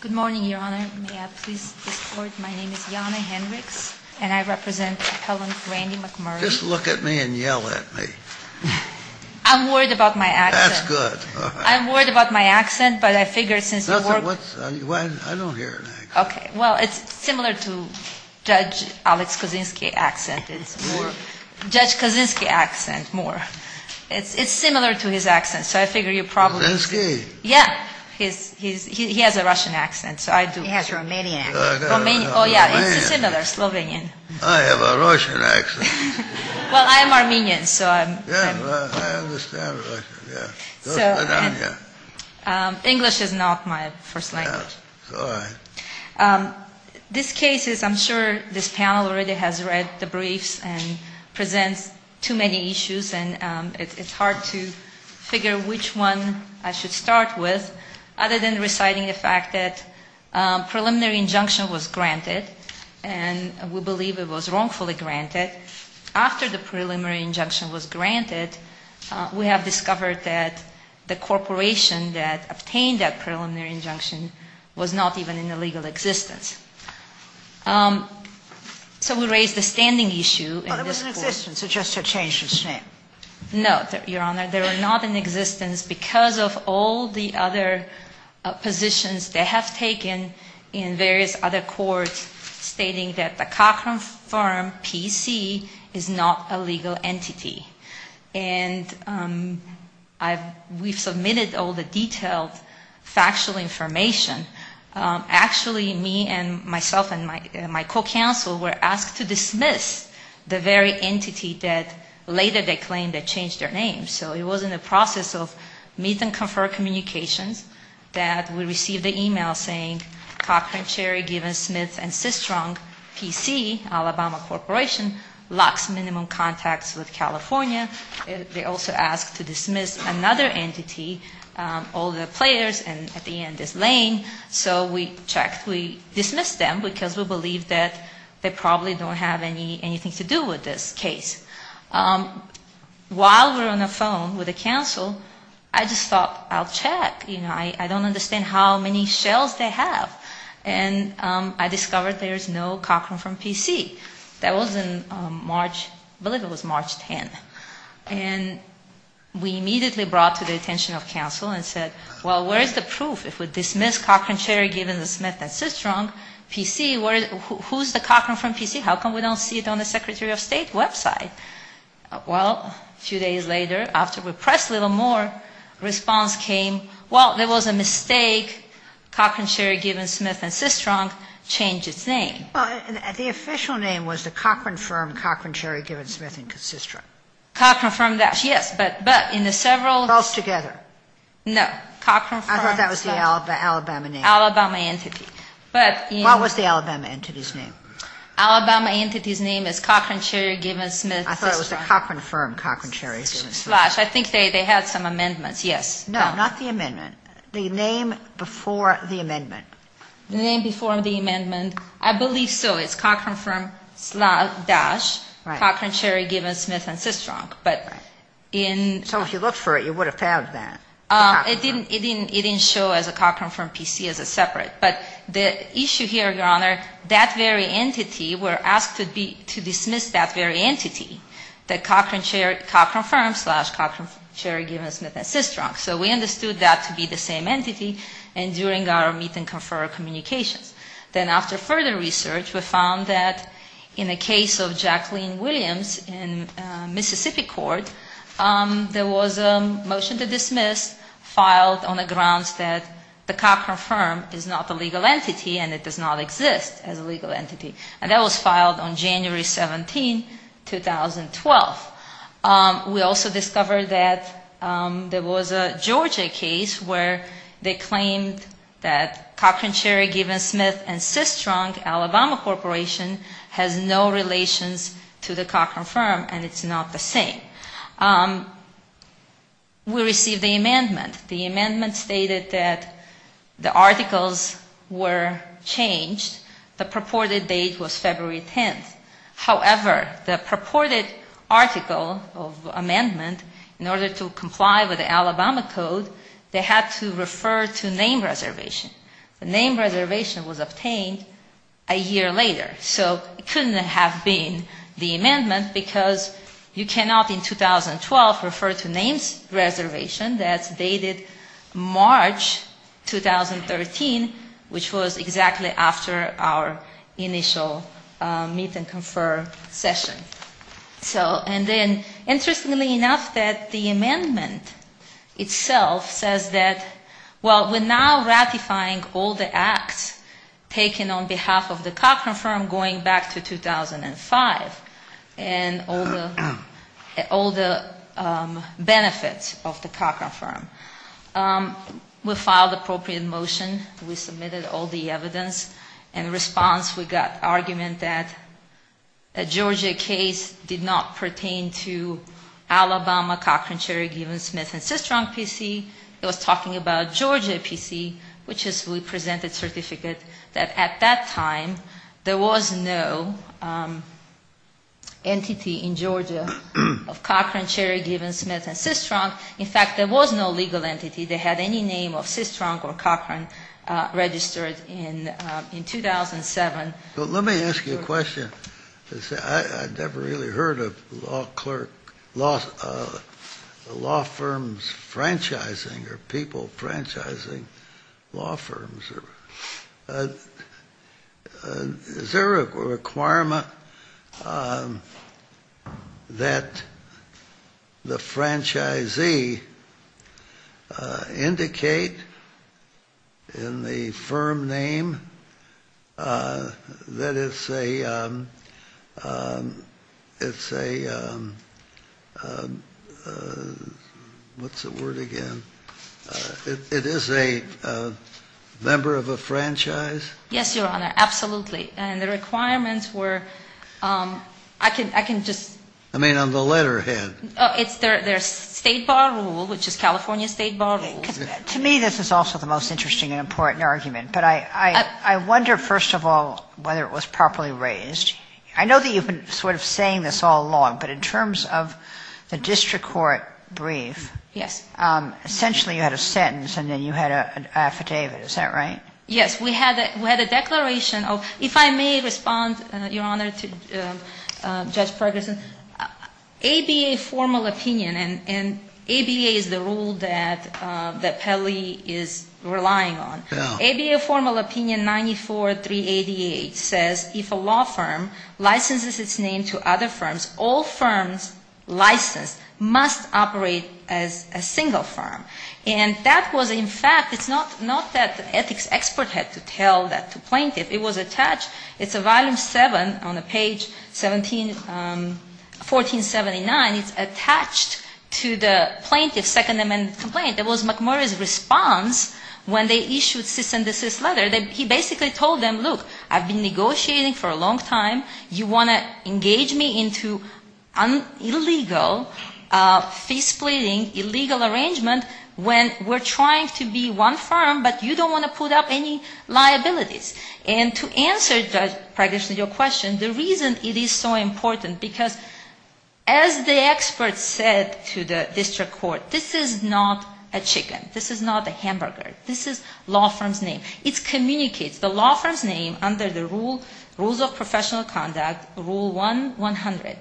Good morning, Your Honor. My name is Jana Hendricks and I represent appellant Randy McMurray. Just look at me and yell at me. I'm worried about my accent. That's good. I'm worried about my accent, but I figure since you work... I don't hear an accent. Okay. Well, it's similar to Judge Alex Kaczynski accent. It's more Judge Kaczynski accent, more. It's similar to his accent, so I figure you probably... Kaczynski? Yeah. He has a Russian accent, so I do. He has a Romanian accent. Oh, yeah. It's similar, Slovenian. I have a Russian accent. Well, I'm Armenian, so I'm... Yeah, I understand Russian, yeah. English is not my first language. Yeah, it's all right. This case is, I'm sure this panel already has read the briefs and presents too many issues, and it's hard to figure which one I should start with, other than reciting the fact that preliminary injunction was granted, and we believe it was wrongfully granted. After the preliminary injunction was granted, we have discovered that the corporation that obtained that preliminary injunction was not even in the legal existence. So we raise the standing issue in this court. No, Your Honor. They were not in existence because of all the other positions they have taken in various other courts stating that the Cochrane firm, PC, is not a legal entity. And we've submitted all the detailed factual information. Actually, me and myself and my co-counsel were asked to dismiss the very entity that later they claimed had changed their name. So it was in the process of meet-and-confer communications that we received an email saying, Cochrane, Cherry, Given, Smith, and Sistrong, PC, Alabama Corporation, locks minimum contacts with California. They also asked to dismiss another entity, all the players, and at the end, this Lane. So we checked. We dismissed them because we believed that they probably don't have anything to do with this case. While we were on the phone with the counsel, I just thought, I'll check. You know, I don't understand how many shells they have. And I discovered there is no Cochrane firm, PC. That was in March, I believe it was March 10th. And we immediately brought to the attention of counsel and said, well, where is the proof if we dismiss Cochrane, Cherry, Given, Smith, and Sistrong, PC? Who is the Cochrane firm, PC? How come we don't see it on the Secretary of State website? Well, a few days later, after we pressed a little more, response came, well, there was a mistake. Cochrane, Cherry, Given, Smith, and Sistrong changed its name. Well, the official name was the Cochrane firm, Cochrane, Cherry, Given, Smith, and Sistrong. Cochrane firm, yes. But in the several. Both together. No. Cochrane firm. I thought that was the Alabama name. Alabama entity. But in. What was the Alabama entity's name? Alabama entity's name is Cochrane, Cherry, Given, Smith, and Sistrong. I thought it was the Cochrane firm, Cochrane, Cherry, Given, Smith. Slash. I think they had some amendments, yes. No, not the amendment. The name before the amendment. The name before the amendment. I believe so. It's Cochrane firm slash, Cochrane, Cherry, Given, Smith, and Sistrong. Right. But in. So if you looked for it, you would have found that. It didn't, it didn't, it didn't show as a Cochrane firm PC as a separate. But the issue here, Your Honor, that very entity were asked to be, to dismiss that very entity. That Cochrane, Cherry, Cochrane firm slash Cochrane, Cherry, Given, Smith, and Sistrong. So we understood that to be the same entity and during our meet and confer communications. Then after further research, we found that in the case of Jacqueline Williams in Mississippi court. There was a motion to dismiss filed on the grounds that the Cochrane firm is not a legal entity and it does not exist as a legal entity. And that was filed on January 17, 2012. We also discovered that there was a Georgia case where they claimed that Cochrane, Cherry, Given, Smith, and Sistrong, Alabama Corporation, has no relations to the Cochrane firm. And it's not the same. We received the amendment. The amendment stated that the articles were changed. The purported date was February 10th. However, the purported article of amendment in order to comply with the Alabama code, they had to refer to name reservation. The name reservation was obtained a year later. So it couldn't have been the amendment because you cannot in 2012 refer to name reservation that's dated March 2013, which was exactly after our initial meet and confer session. So, and then, interestingly enough, that the amendment itself says that, well, we're now ratifying all the acts taken on behalf of the Cochrane firm going back to 2005 and all the benefits of the Cochrane firm. We filed appropriate motion. We submitted all the evidence. In response, we got argument that a Georgia case did not pertain to Alabama, Cochrane, Cherry, Given, Smith, and Sistrong PC. It was talking about Georgia PC, which is we presented certificate that at that time there was no entity in Georgia of Cochrane, Cherry, Given, Smith, and Sistrong. In fact, there was no legal entity. They had any name of Sistrong or Cochrane registered in 2007. Let me ask you a question. I never really heard of law firms franchising or people franchising law firms. Is there a requirement that the franchisee indicate in the firm name that it's a, it's a, what's the word again? It is a member of a franchise? Yes, Your Honor, absolutely. And the requirements were, I can just. I mean on the letterhead. It's their state bar rule, which is California state bar rule. To me, this is also the most interesting and important argument. But I wonder, first of all, whether it was properly raised. I know that you've been sort of saying this all along, but in terms of the district court brief. Yes. Essentially you had a sentence and then you had an affidavit. Is that right? Yes. We had a declaration of, if I may respond, Your Honor, to Judge Ferguson. ABA formal opinion, and ABA is the rule that Pelley is relying on. Bill. ABA formal opinion 94388 says if a law firm licenses its name to other firms, all firms licensed must operate as a single firm. And that was in fact, it's not that the ethics expert had to tell that to plaintiff. It was attached. It's a volume 7 on the page 1479. It's attached to the plaintiff's Second Amendment complaint. It was McMurray's response when they issued cease and desist letter. He basically told them, look, I've been negotiating for a long time. You want to engage me into an illegal fee-splitting, illegal arrangement when we're trying to be one firm, but you don't want to put up any liabilities. And to answer, Judge Ferguson, your question, the reason it is so important, because as the expert said to the district court, this is not a chicken. This is not a hamburger. This is law firm's name. It communicates the law firm's name under the rules of professional conduct, Rule 100.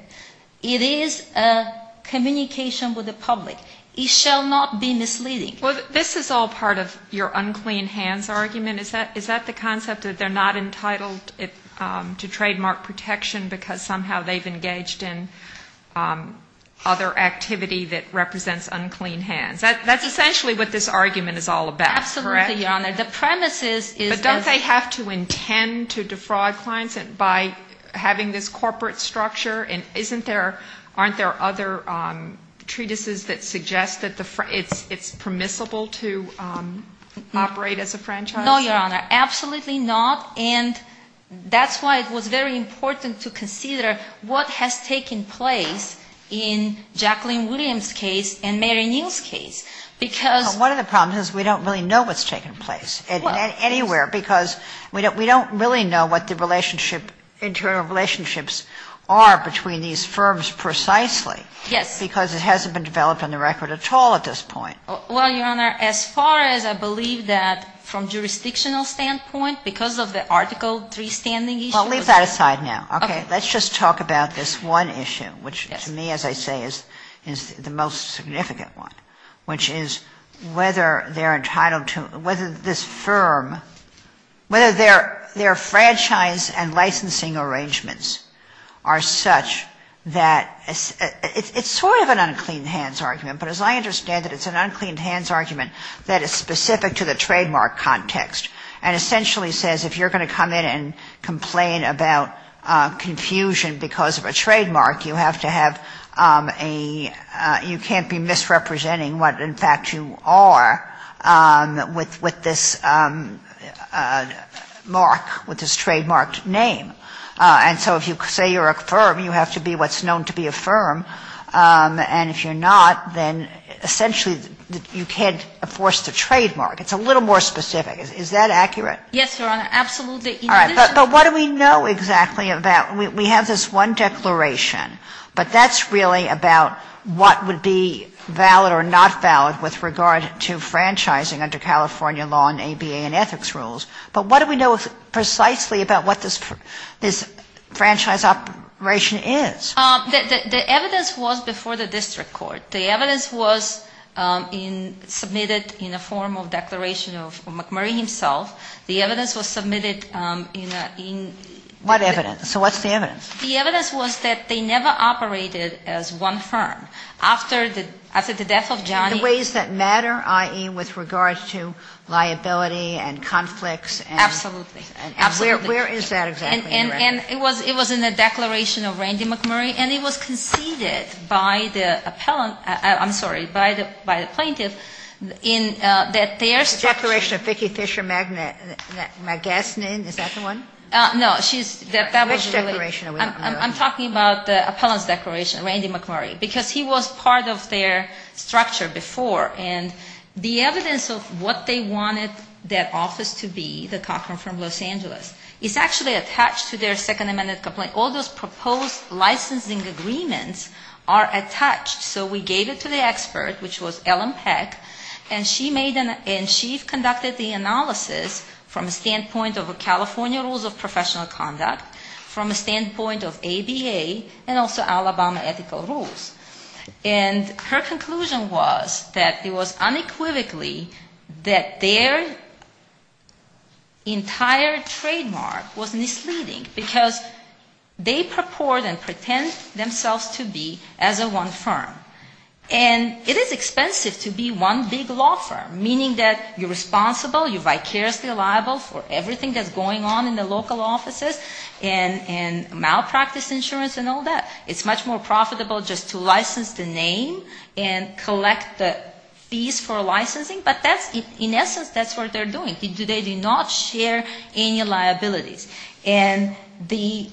It is a communication with the public. It shall not be misleading. Well, this is all part of your unclean hands argument. Is that the concept, that they're not entitled to trademark protection because somehow they've engaged in other activity that represents unclean hands? That's essentially what this argument is all about, correct? Absolutely, Your Honor. The premise is that as a ---- But don't they have to intend to defraud clients by having this corporate structure? And isn't there, aren't there other treatises that suggest that it's permissible to operate as a franchise? No, Your Honor. Absolutely not. And that's why it was very important to consider what has taken place in Jacqueline Williams' case and Mary Neal's case. Because ---- But one of the problems is we don't really know what's taken place anywhere because we don't really know what the relationship, internal relationships are between these firms precisely. Yes. Because it hasn't been developed on the record at all at this point. Well, Your Honor, as far as I believe that from jurisdictional standpoint, because of the Article III standing issue ---- Well, leave that aside now. Okay. Let's just talk about this one issue, which to me, as I say, is the most significant one, which is whether they're entitled to ---- whether this firm, whether their franchise and licensing arrangements are such that it's sort of an unclean hands argument. But as I understand it, it's an unclean hands argument that is specific to the trademark context, and essentially says if you're going to come in and complain about confusion because of a trademark, you have to have a ---- you can't be misrepresenting what in fact you are with this mark, with this trademarked name. And so if you say you're a firm, you have to be what's known to be a firm. And if you're not, then essentially you can't enforce the trademark. It's a little more specific. Is that accurate? Yes, Your Honor. Absolutely. All right. But what do we know exactly about ---- we have this one declaration, but that's really about what would be valid or not valid with regard to franchising under California law and ABA and ethics rules. But what do we know precisely about what this franchise operation is? The evidence was before the district court. The evidence was submitted in a form of declaration of McMurray himself. The evidence was submitted in a ---- What evidence? So what's the evidence? The evidence was that they never operated as one firm. After the death of Johnny ---- In the ways that matter, i.e., with regard to liability and conflicts and ---- Absolutely. Absolutely. And where is that exactly, Your Honor? And it was in the declaration of Randy McMurray. And it was conceded by the appellant ---- I'm sorry, by the plaintiff in that their structure ---- The declaration of Vicki Fisher Magasnin. Is that the one? No, she's ---- Which declaration are we talking about? I'm talking about the appellant's declaration, Randy McMurray, because he was part of their structure before. And the evidence of what they wanted that office to be, the Cochran Firm of Los Angeles, is actually attached to their Second Amendment complaint. All those proposed licensing agreements are attached. So we gave it to the expert, which was Ellen Peck, and she made an ---- and she conducted the analysis from a standpoint of California rules of professional conduct, from a standpoint of ABA and also Alabama ethical rules. And her conclusion was that it was unequivocally that their entire trademark was misleading because they purport and pretend themselves to be as a one firm. And it is expensive to be one big law firm, meaning that you're responsible, you're vicariously liable for everything that's going on in the local offices and malpractice insurance and all that. It's much more profitable just to license the name and collect the fees for licensing. But that's, in essence, that's what they're doing. They do not share any liabilities. And the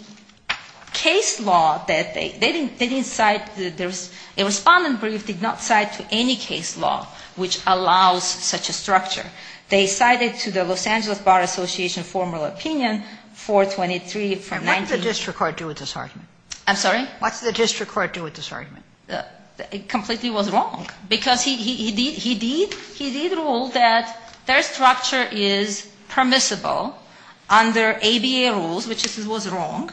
case law that they didn't cite, a respondent brief did not cite any case law which allows such a structure. They cited to the Los Angeles Bar Association formal opinion 423 from 19 ---- And what did the district court do with this argument? I'm sorry? What did the district court do with this argument? It completely was wrong. Because he did rule that their structure is permissible under ABA rules, which was wrong.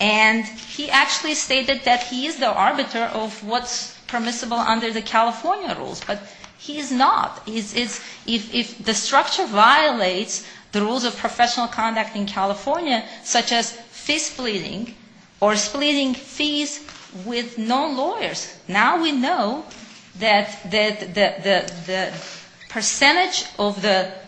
And he actually stated that he is the arbiter of what's permissible under the California rules. But he is not. If the structure violates the rules of professional conduct in California, such as fee splitting or splitting fees with non-lawyers, now we know that the percentage of the ----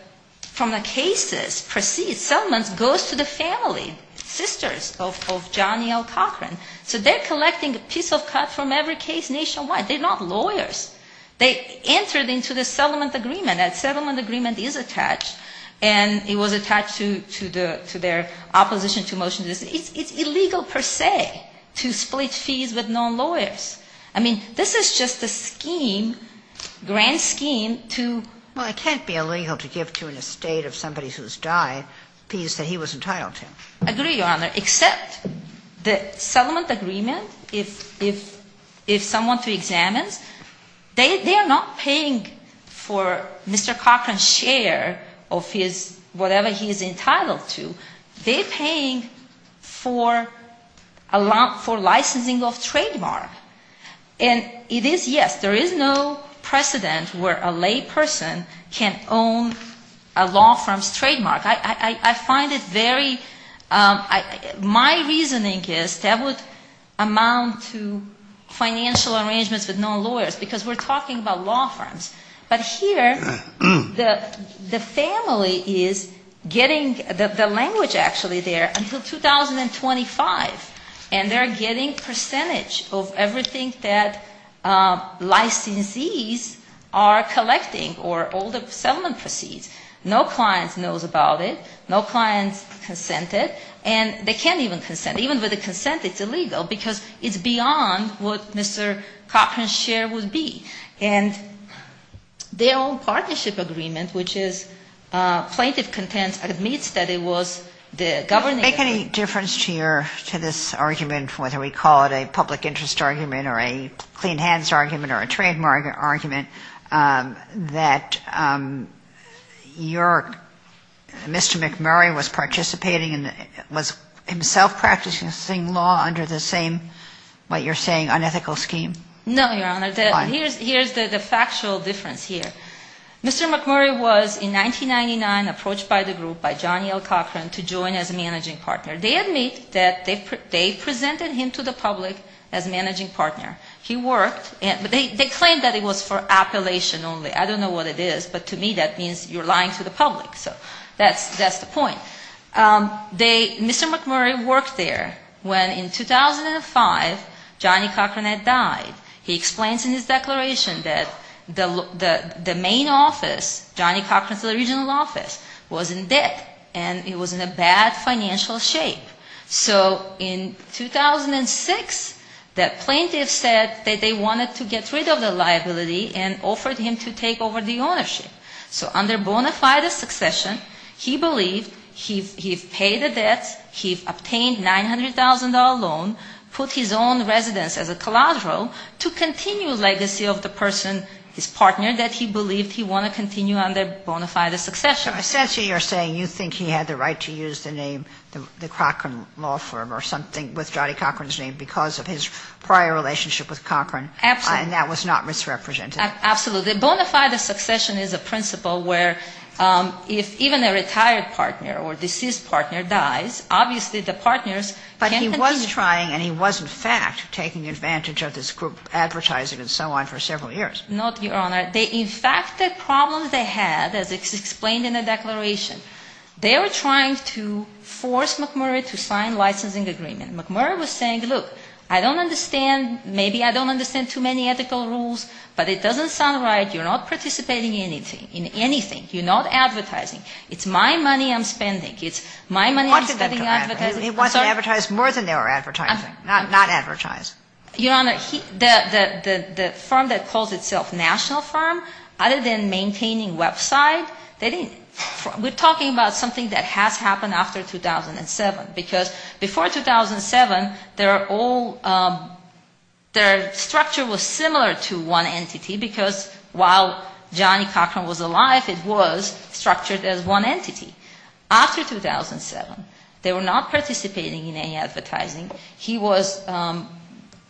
from the cases proceeds, settlements, goes to the family, sisters of Johnny L. Cochran. So they're collecting a piece of cut from every case nationwide. They're not lawyers. They entered into the settlement agreement. That settlement agreement is attached. And it was attached to their opposition to motions. It's illegal per se to split fees with non-lawyers. I mean, this is just a scheme, grand scheme to ---- Well, it can't be illegal to give to an estate of somebody who's died fees that he was entitled to. I agree, Your Honor. Except the settlement agreement, if someone to examines, they are not paying for Mr. Cochran's share of his whatever he is entitled to. They're paying for licensing of trademark. And it is, yes, there is no precedent where a lay person can own a law firm's trademark. I find it very ---- my reasoning is that would amount to financial arrangements with non-lawyers. Because we're talking about law firms. But here the family is getting the language actually there until 2025. And they're getting percentage of everything that licensees are collecting or all the settlement proceeds. No client knows about it. No client consented. And they can't even consent. Even with a consent, it's illegal because it's beyond what Mr. Cochran's share would be. And their own partnership agreement, which is plaintiff content, admits that it was the governing ---- Mr. McMurray was participating and was himself practicing the same law under the same, what you're saying, unethical scheme? No, Your Honor. Why? Here's the factual difference here. Mr. McMurray was in 1999 approached by the group, by Johnny L. Cochran, to join as a managing partner. They admit that they presented him to the public as managing partner. He worked. They claimed that it was for appellation only. I don't know what it is. But to me that means you're lying to the public. So that's the point. Mr. McMurray worked there when in 2005 Johnny Cochran had died. He explains in his declaration that the main office, Johnny Cochran's original office, was in debt. And it was in a bad financial shape. So in 2006, the plaintiff said that they wanted to get rid of the liability and offered him to take over the ownership. So under bona fide succession, he believed he paid the debt, he obtained $900,000 loan, put his own residence as a collateral to continue legacy of the person, his partner, that he believed he wanted to continue under bona fide succession. So essentially you're saying you think he had the right to use the name the Cochran Law Firm or something with Johnny Cochran's name because of his prior relationship with Cochran. Absolutely. And that was not misrepresented. Absolutely. Bona fide succession is a principle where if even a retired partner or deceased partner dies, obviously the partners can continue. But he was trying and he was, in fact, taking advantage of this group advertising and so on for several years. No, Your Honor. They, in fact, the problems they had, as explained in the Declaration, they were trying to force McMurray to sign licensing agreement. McMurray was saying, look, I don't understand, maybe I don't understand too many ethical rules, but it doesn't sound right. You're not participating in anything. You're not advertising. It's my money I'm spending. It's my money I'm spending advertising. He wanted them to advertise. He wanted to advertise more than they were advertising, not advertise. Your Honor, the firm that calls itself national firm, other than maintaining website, they didn't, we're talking about something that has happened after 2007. Because before 2007, they're all, their structure was similar to one entity, because while Johnny Cochran was alive, it was structured as one entity. After 2007, they were not participating in any advertising. He was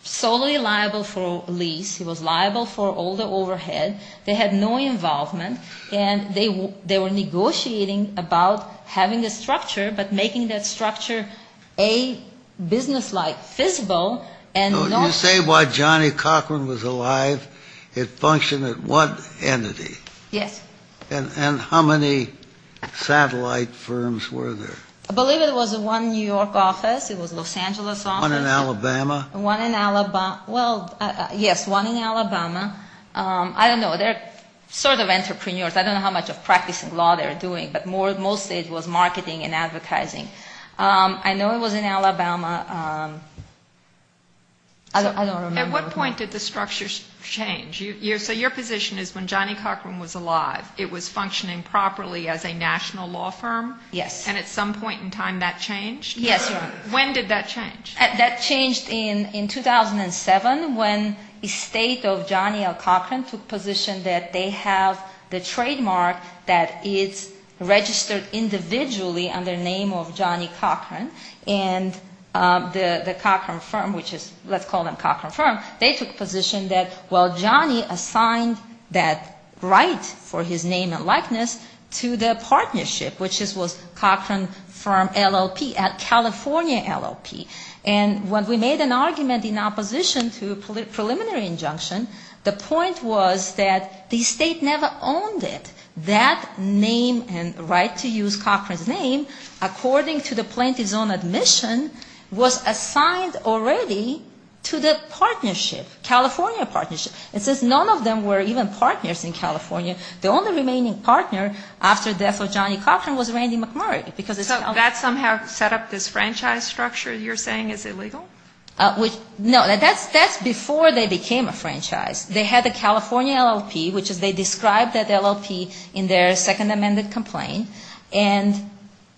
solely liable for lease. He was liable for all the overhead. They had no involvement. And they were negotiating about having a structure, but making that structure, A, business-like, visible, and not. So you say while Johnny Cochran was alive, it functioned at one entity. Yes. And how many satellite firms were there? I believe it was one New York office. It was Los Angeles office. One in Alabama. One in Alabama. Well, yes, one in Alabama. I don't know. They're sort of entrepreneurs. I don't know how much of practicing law they were doing. But mostly it was marketing and advertising. I know it was in Alabama. I don't remember. At what point did the structure change? So your position is when Johnny Cochran was alive, it was functioning properly as a national law firm? Yes. And at some point in time, that changed? Yes. When did that change? That changed in 2007 when the state of Johnny L. Cochran took position that they have the trademark that is registered individually under the name of Johnny Cochran. And the Cochran firm, which is, let's call them Cochran firm, they took position that, well, Johnny assigned that right for his name and likeness to the partnership, which was Cochran firm LLP at California LLP. And when we made an argument in opposition to a preliminary injunction, the point was that the state never owned it. That name and right to use Cochran's name, according to the plaintiff's own admission, was assigned already to the partnership, California partnership. And since none of them were even partners in California, the only remaining partner after the death of Johnny Cochran was Randy McMurray. So that somehow set up this franchise structure you're saying is illegal? No. That's before they became a franchise. They had the California LLP, which is they described that LLP in their second amended complaint. And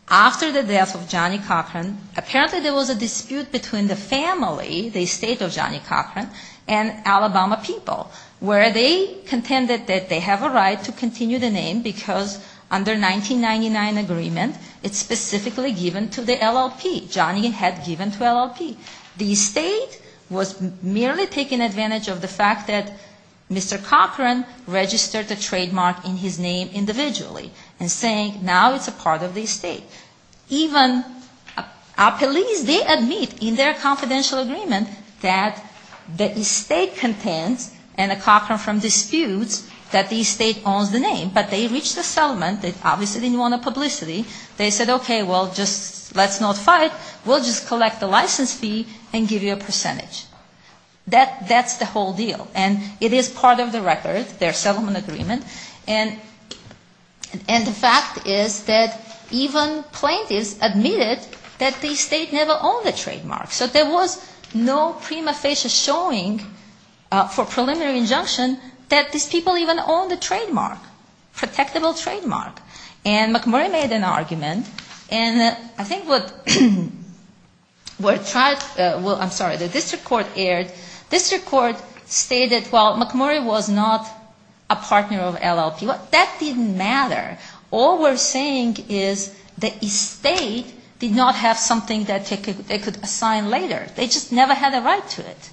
after the death of Johnny Cochran, apparently there was a dispute between the family, the state of Johnny Cochran, and Alabama people where they contended that they have a right to continue the name because under 1999 agreement it's specifically given to the LLP. Johnny had given to LLP. The state was merely taking advantage of the fact that Mr. Cochran registered the trademark in his name individually and saying now it's a part of the state. Even our police, they admit in their confidential agreement that the estate contends, and the Cochran from disputes, that the estate owns the name. But they reached a settlement. They obviously didn't want publicity. They said, okay, well, just let's not fight. We'll just collect the license fee and give you a percentage. That's the whole deal. And it is part of the record, their settlement agreement. And the fact is that even plaintiffs admitted that the estate never owned the trademark. So there was no prima facie showing for preliminary injunction that these people even owned the trademark, protectable trademark. And McMurray made an argument. And I think what was tried, well, I'm sorry, the district court erred. Well, McMurray was not a partner of LLP. That didn't matter. All we're saying is the estate did not have something that they could assign later. They just never had a right to it.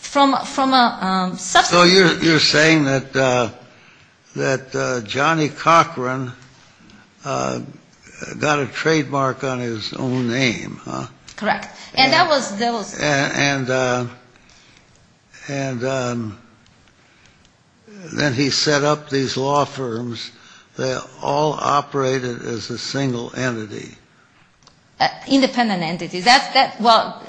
So you're saying that Johnny Cochran got a trademark on his own name, huh? Correct. And then he set up these law firms that all operated as a single entity. Independent entities. Well,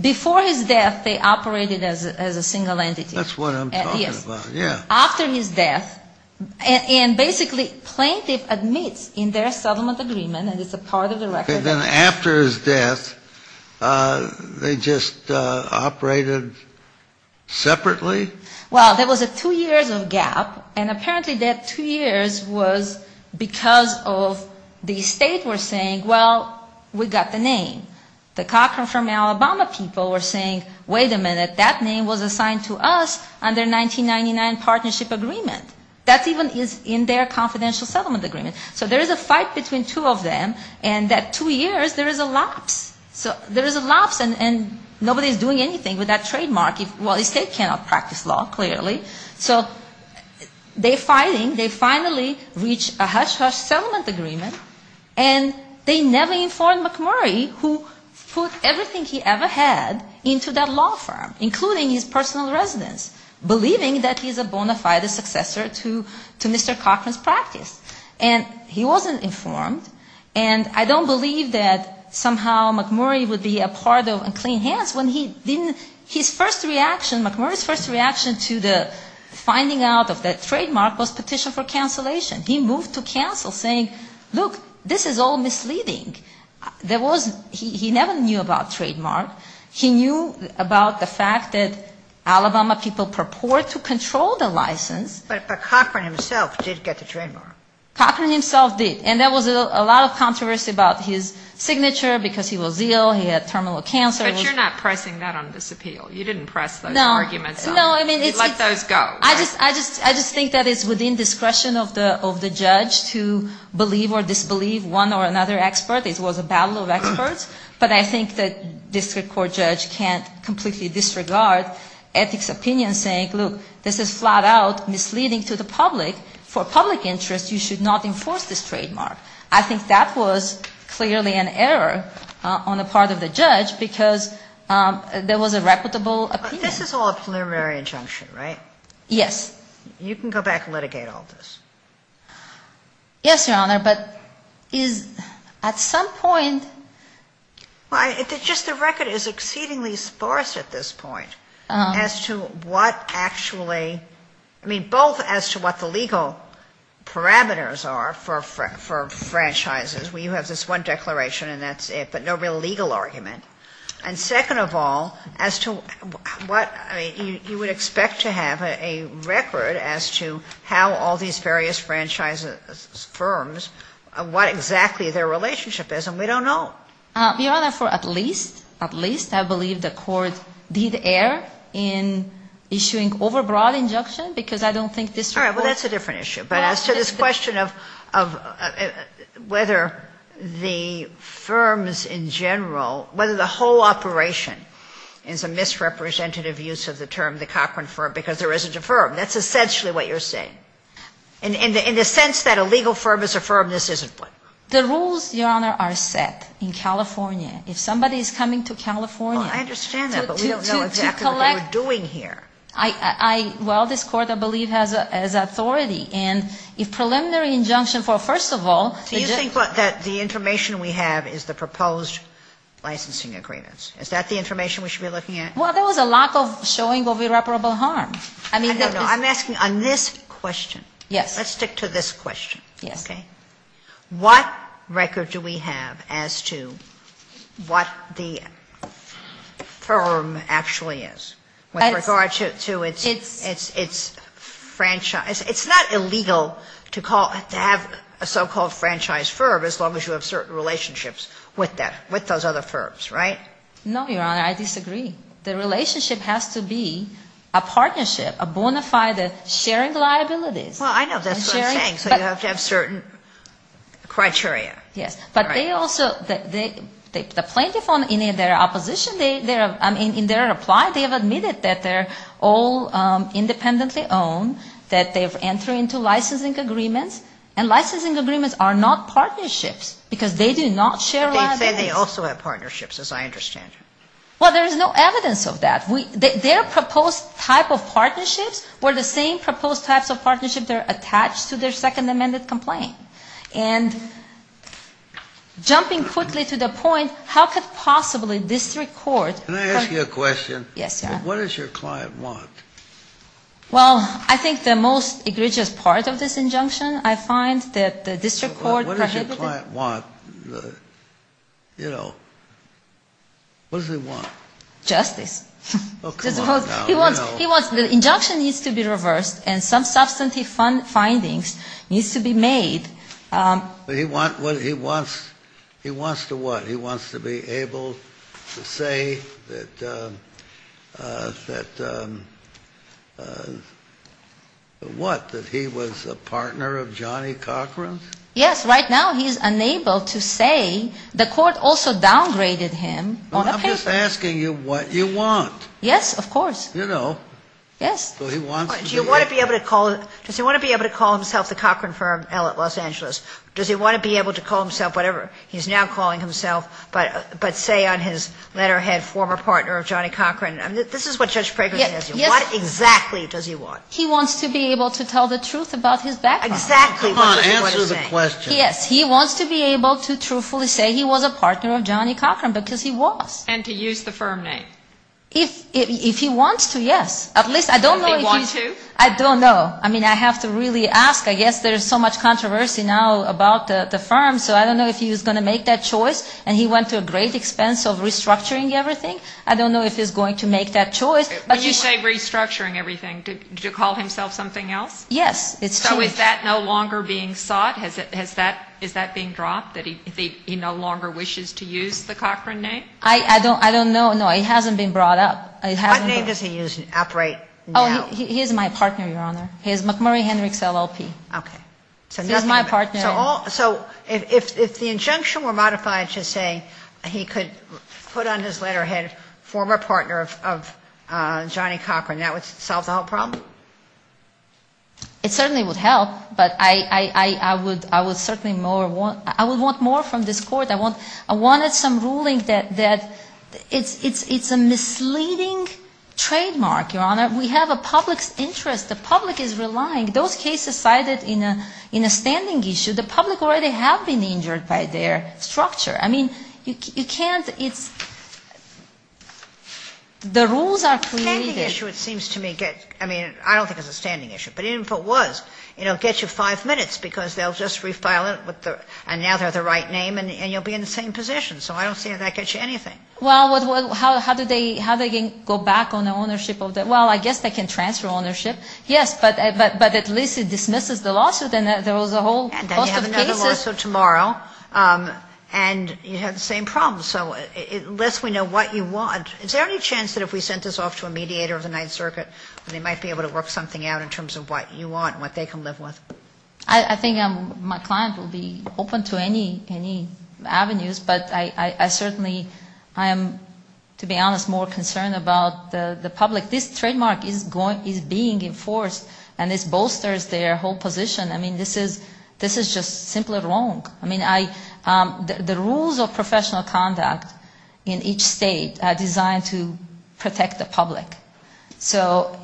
before his death, they operated as a single entity. That's what I'm talking about, yeah. After his death. And basically plaintiff admits in their settlement agreement, and it's a part of the record. And then after his death, they just operated separately? Well, there was a two years of gap. And apparently that two years was because of the estate were saying, well, we got the name. The Cochran from Alabama people were saying, wait a minute, that name was assigned to us under 1999 partnership agreement. That even is in their confidential settlement agreement. So there is a fight between two of them, and that two years, there is a lapse. There is a lapse, and nobody is doing anything with that trademark. Well, the estate cannot practice law, clearly. So they're fighting. They finally reach a hush-hush settlement agreement, and they never informed McMurray, who put everything he ever had into that law firm, including his personal residence, believing that he's a bona fide successor to Mr. Cochran's practice. And he wasn't informed. And I don't believe that somehow McMurray would be a part of Unclean Hands when he didn't, his first reaction, McMurray's first reaction to the finding out of that trademark was petition for cancellation. He moved to counsel saying, look, this is all misleading. There was, he never knew about trademark. He knew about the fact that Alabama people purport to control the license. But Cochran himself did get the trademark. Cochran himself did. And there was a lot of controversy about his signature because he was ill, he had terminal cancer. But you're not pressing that on disappeal. You didn't press those arguments. No. You let those go. I just think that it's within discretion of the judge to believe or disbelieve one or another expert. It was a battle of experts. But I think that district court judge can't completely disregard ethics opinion saying, look, this is flat out misleading to the public. For public interest, you should not enforce this trademark. I think that was clearly an error on the part of the judge because there was a reputable opinion. This is all a preliminary injunction, right? Yes. You can go back and litigate all this. Yes, Your Honor, but is at some point. Just the record is exceedingly sparse at this point as to what actually, I mean, both as to what the legal parameters are for franchises. We have this one declaration and that's it, but no real legal argument. And second of all, as to what, I mean, you would expect to have a record as to how all these various franchises, firms, what exactly their relationship is, and we don't know. Your Honor, for at least, at least, I believe the court did err in issuing overbroad injunction because I don't think district court. All right, well, that's a different issue. But as to this question of whether the firms in general, whether the whole operation is a misrepresentative use of the term, the Cochran firm, because there isn't a firm. That's essentially what you're saying. In the sense that a legal firm is a firm, this isn't one. The rules, Your Honor, are set in California. If somebody is coming to California. Well, I understand that, but we don't know exactly what they were doing here. Well, this Court, I believe, has authority. And if preliminary injunction for, first of all. Do you think that the information we have is the proposed licensing agreements? Is that the information we should be looking at? Well, there was a lack of showing of irreparable harm. I don't know. I'm asking on this question. Yes. Let's stick to this question. Yes. What record do we have as to what the firm actually is with regard to its franchise? It's not illegal to have a so-called franchise firm as long as you have certain relationships with that, with those other firms, right? No, Your Honor. I disagree. The relationship has to be a partnership, a bona fide sharing liabilities. Well, I know that's what I'm saying. So you have to have certain criteria. Yes. But they also, the plaintiff in their opposition, in their reply, they have admitted that they're all independently owned, that they've entered into licensing agreements. And licensing agreements are not partnerships because they do not share liabilities. But they say they also have partnerships, as I understand it. Well, there is no evidence of that. Their proposed type of partnerships were the same proposed types of partnerships that are attached to their Second Amendment complaint. And jumping quickly to the point, how could possibly district court? Can I ask you a question? Yes, Your Honor. What does your client want? Well, I think the most egregious part of this injunction I find that the district court prohibited it. What does your client want? You know, what does he want? Justice. Oh, come on now. He wants the injunction needs to be reversed and some substantive findings needs to be made. He wants to what? He wants to be able to say that, what, that he was a partner of Johnny Cochran's? Yes. Right now he's unable to say the court also downgraded him on a paper. He's just asking you what you want. Yes, of course. You know. Yes. Does he want to be able to call himself the Cochran firm at Los Angeles? Does he want to be able to call himself whatever he's now calling himself, but say on his letterhead, former partner of Johnny Cochran? This is what Judge Prager says. What exactly does he want? He wants to be able to tell the truth about his background. Exactly. Come on. Answer the question. Yes, he wants to be able to truthfully say he was a partner of Johnny Cochran because he was. And to use the firm name. If he wants to, yes. At least I don't know if he's. Does he want to? I don't know. I mean, I have to really ask. I guess there's so much controversy now about the firm, so I don't know if he was going to make that choice, and he went to a great expense of restructuring everything. I don't know if he's going to make that choice. When you say restructuring everything, did you call himself something else? Yes. So is that no longer being sought? Is that being dropped, that he no longer wishes to use the Cochran name? I don't know. No, it hasn't been brought up. What name does he operate now? He is my partner, Your Honor. He is McMurray Hendricks, LLP. Okay. He's my partner. So if the injunction were modified to say he could put on his letterhead, former partner of Johnny Cochran, that would solve the whole problem? It certainly would help, but I would certainly want more from this Court. I wanted some ruling that it's a misleading trademark, Your Honor. We have a public's interest. The public is relying. Those cases cited in a standing issue, the public already have been injured by their structure. I mean, you can't, it's, the rules are created. In a standing issue, it seems to me, I mean, I don't think it's a standing issue, but even if it was, you know, it gets you five minutes because they'll just refile it and now they're the right name and you'll be in the same position. So I don't see how that gets you anything. Well, how do they go back on the ownership? Well, I guess they can transfer ownership, yes, but at least it dismisses the lawsuit and there was a whole host of cases. Then you have another lawsuit tomorrow and you have the same problem. So it lets me know what you want. Is there any chance that if we sent this off to a mediator of the Ninth Circuit, they might be able to work something out in terms of what you want and what they can live with? I think my client will be open to any avenues, but I certainly am, to be honest, more concerned about the public. This trademark is being enforced and this bolsters their whole position. I mean, this is just simply wrong. I mean, the rules of professional conduct in each state are designed to protect the public. So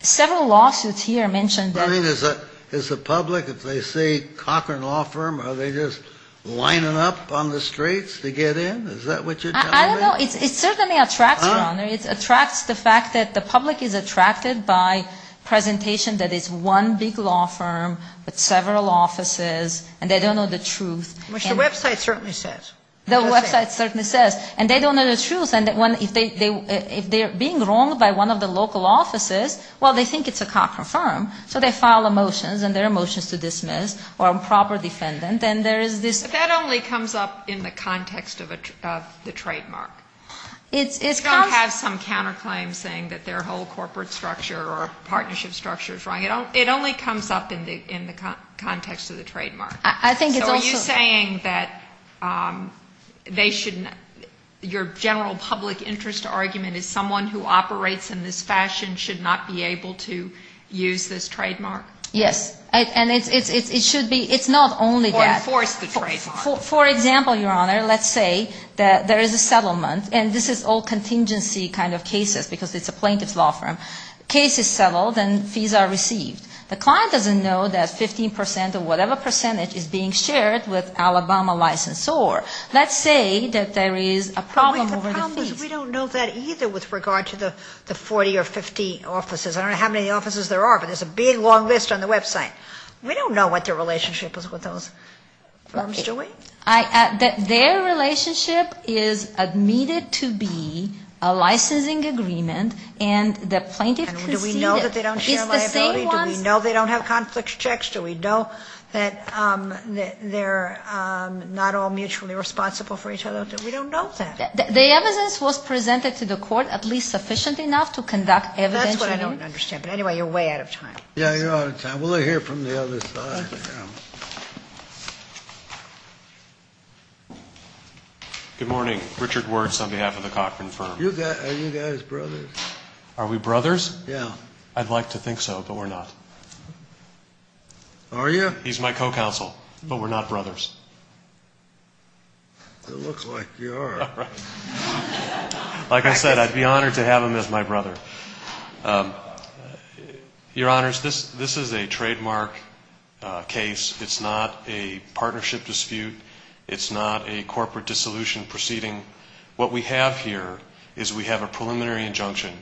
several lawsuits here mention that. I mean, is the public, if they see Cochran Law Firm, are they just lining up on the streets to get in? Is that what you're telling me? I don't know. It certainly attracts, Your Honor. It attracts the fact that the public is attracted by presentation that it's one big law firm with several offices and they don't know the truth. Which the website certainly says. The website certainly says. And they don't know the truth. And if they're being wronged by one of the local offices, well, they think it's a Cochran firm. So they file a motion, and there are motions to dismiss or improper defendant, and there is this. But that only comes up in the context of the trademark. It's not have some counterclaim saying that their whole corporate structure or partnership structure is wrong. It only comes up in the context of the trademark. So are you saying that they shouldn't, your general public interest argument is someone who operates in this fashion should not be able to use this trademark? Yes. And it should be, it's not only that. Or enforce the trademark. For example, Your Honor, let's say that there is a settlement, and this is all contingency kind of cases because it's a plaintiff's law firm. Case is settled, and fees are received. The client doesn't know that 15% or whatever percentage is being shared with Alabama licensor. Let's say that there is a problem over the fees. The problem is we don't know that either with regard to the 40 or 50 offices. I don't know how many offices there are, but there's a big long list on the website. We don't know what their relationship is with those firms, do we? Their relationship is admitted to be a licensing agreement, and the plaintiff conceded. Do we know that they don't share liability? It's the same ones. Do we know they don't have conflict checks? Do we know that they're not all mutually responsible for each other? We don't know that. The evidence was presented to the court at least sufficient enough to conduct evidence. That's what I don't understand. But anyway, you're way out of time. Yeah, you're out of time. We'll hear from the other side. Good morning. Richard Wertz on behalf of the Cochran Firm. Are you guys brothers? Are we brothers? Yeah. I'd like to think so, but we're not. Are you? He's my co-counsel, but we're not brothers. You look like you are. Like I said, I'd be honored to have him as my brother. Your Honors, this is a trademark case. It's not a partnership dispute. It's not a corporate dissolution proceeding. What we have here is we have a preliminary injunction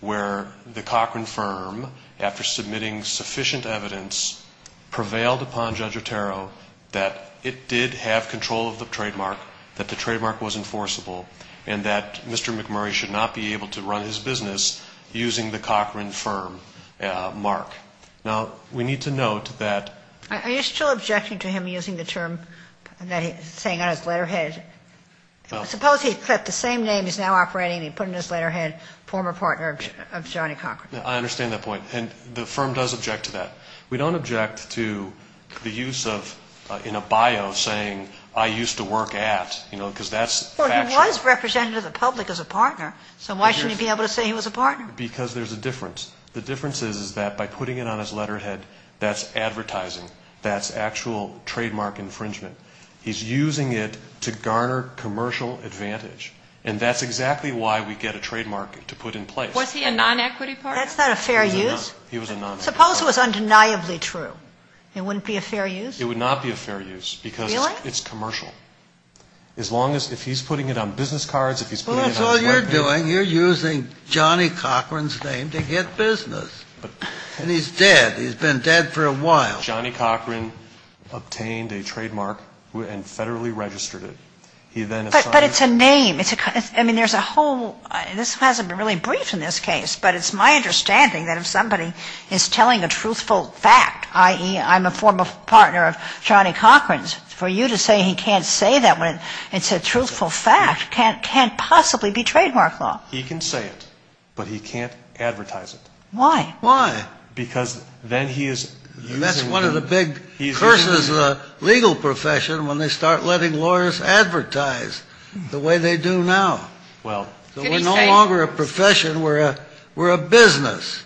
where the Cochran Firm, after submitting sufficient evidence, prevailed upon Judge Otero that it did have control of the trademark, that the trademark was enforceable, and that Mr. McMurray should not be able to run his business using the Cochran Firm mark. Now, we need to note that... Are you still objecting to him using the term that he's saying on his letterhead? Suppose he kept the same name he's now operating and he put it in his letterhead, former partner of Johnny Cochran. I understand that point, and the firm does object to that. We don't object to the use of, in a bio, saying, I used to work at, you know, because that's factual. Well, he was representative of the public as a partner, so why shouldn't he be able to say he was a partner? Because there's a difference. The difference is that by putting it on his letterhead, that's advertising. That's actual trademark infringement. He's using it to garner commercial advantage, and that's exactly why we get a trademark to put in place. Was he a non-equity partner? That's not a fair use. He was a non-equity partner. Suppose it was undeniably true. It wouldn't be a fair use? It would not be a fair use because it's commercial. As long as, if he's putting it on business cards, if he's putting it on his letterhead. Well, that's all you're doing. You're using Johnny Cochran's name to get business. And he's dead. He's been dead for a while. Johnny Cochran obtained a trademark and federally registered it. He then is trying to. But it's a name. I mean, there's a whole. This hasn't been really briefed in this case, but it's my understanding that if somebody is telling a truthful fact, i.e., I'm a former partner of Johnny Cochran's. For you to say he can't say that when it's a truthful fact can't possibly be trademark law. He can say it, but he can't advertise it. Why? Why? Because then he is. That's one of the big curses of the legal profession when they start letting lawyers advertise the way they do now. Well. We're no longer a profession. We're a business.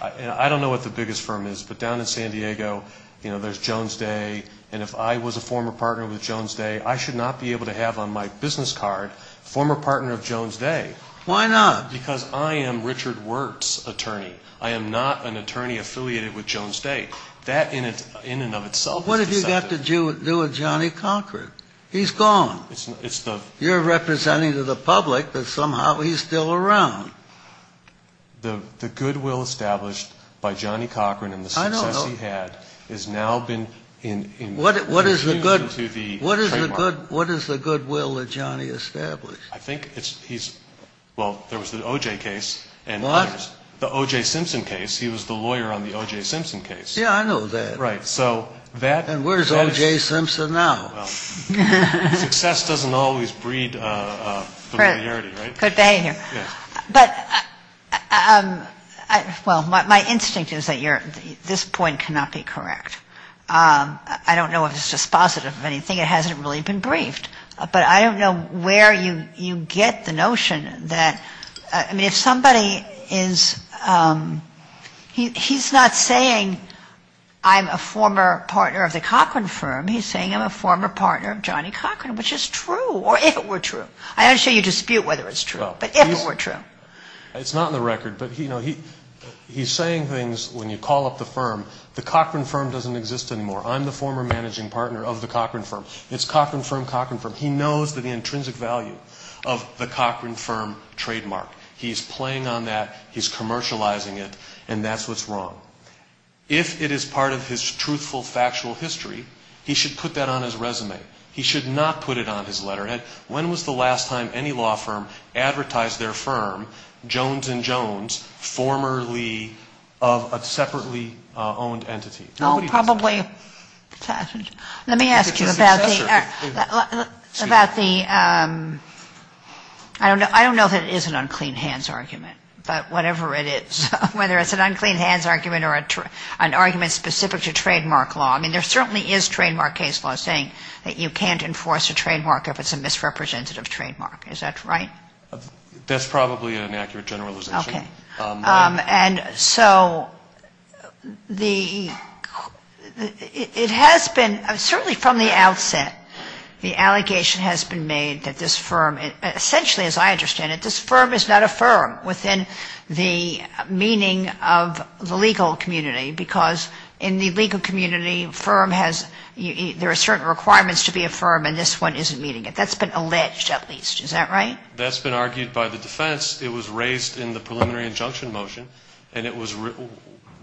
I don't know what the biggest firm is, but down in San Diego, you know, there's Jones Day. And if I was a former partner with Jones Day, I should not be able to have on my business card former partner of Jones Day. Why not? Because I am Richard Wertz's attorney. I am not an attorney affiliated with Jones Day. That in and of itself is deceptive. What have you got to do with Johnny Cochran? He's gone. You're representing to the public that somehow he's still around. The goodwill established by Johnny Cochran and the success he had has now been infused into the trademark. What is the goodwill that Johnny established? I think he's, well, there was the O.J. case. What? The O.J. Simpson case. He was the lawyer on the O.J. Simpson case. Yeah, I know that. Right. And where's O.J. Simpson now? Well, success doesn't always breed familiarity, right? Good behavior. But, well, my instinct is that this point cannot be correct. I don't know if it's dispositive of anything. It hasn't really been briefed. But I don't know where you get the notion that, I mean, if somebody is, he's not saying I'm a former partner of the Cochran firm. He's saying I'm a former partner of Johnny Cochran, which is true, or if it were true. I'm not sure you dispute whether it's true. No. But if it were true. It's not in the record. But, you know, he's saying things when you call up the firm. The Cochran firm doesn't exist anymore. I'm the former managing partner of the Cochran firm. It's Cochran firm, Cochran firm. He knows the intrinsic value of the Cochran firm trademark. He's playing on that. He's commercializing it. And that's what's wrong. If it is part of his truthful, factual history, he should put that on his resume. He should not put it on his letterhead. When was the last time any law firm advertised their firm, Jones & Jones, formerly of a separately owned entity? Nobody does that. Oh, probably. Let me ask you about the, about the, I don't know if it is an unclean hands argument. But whatever it is, whether it's an unclean hands argument or an argument specific to trademark law. I mean, there certainly is trademark case law saying that you can't enforce a trademark if it's a misrepresentative trademark. Is that right? That's probably an inaccurate generalization. Okay. And so the, it has been, certainly from the outset, the allegation has been made that this firm, essentially as I understand it, this firm is not a firm within the meaning of the legal community. Because in the legal community, firm has, there are certain requirements to be a firm and this one isn't meeting it. That's been alleged at least. Is that right? That's been argued by the defense. It was raised in the preliminary injunction motion. And it was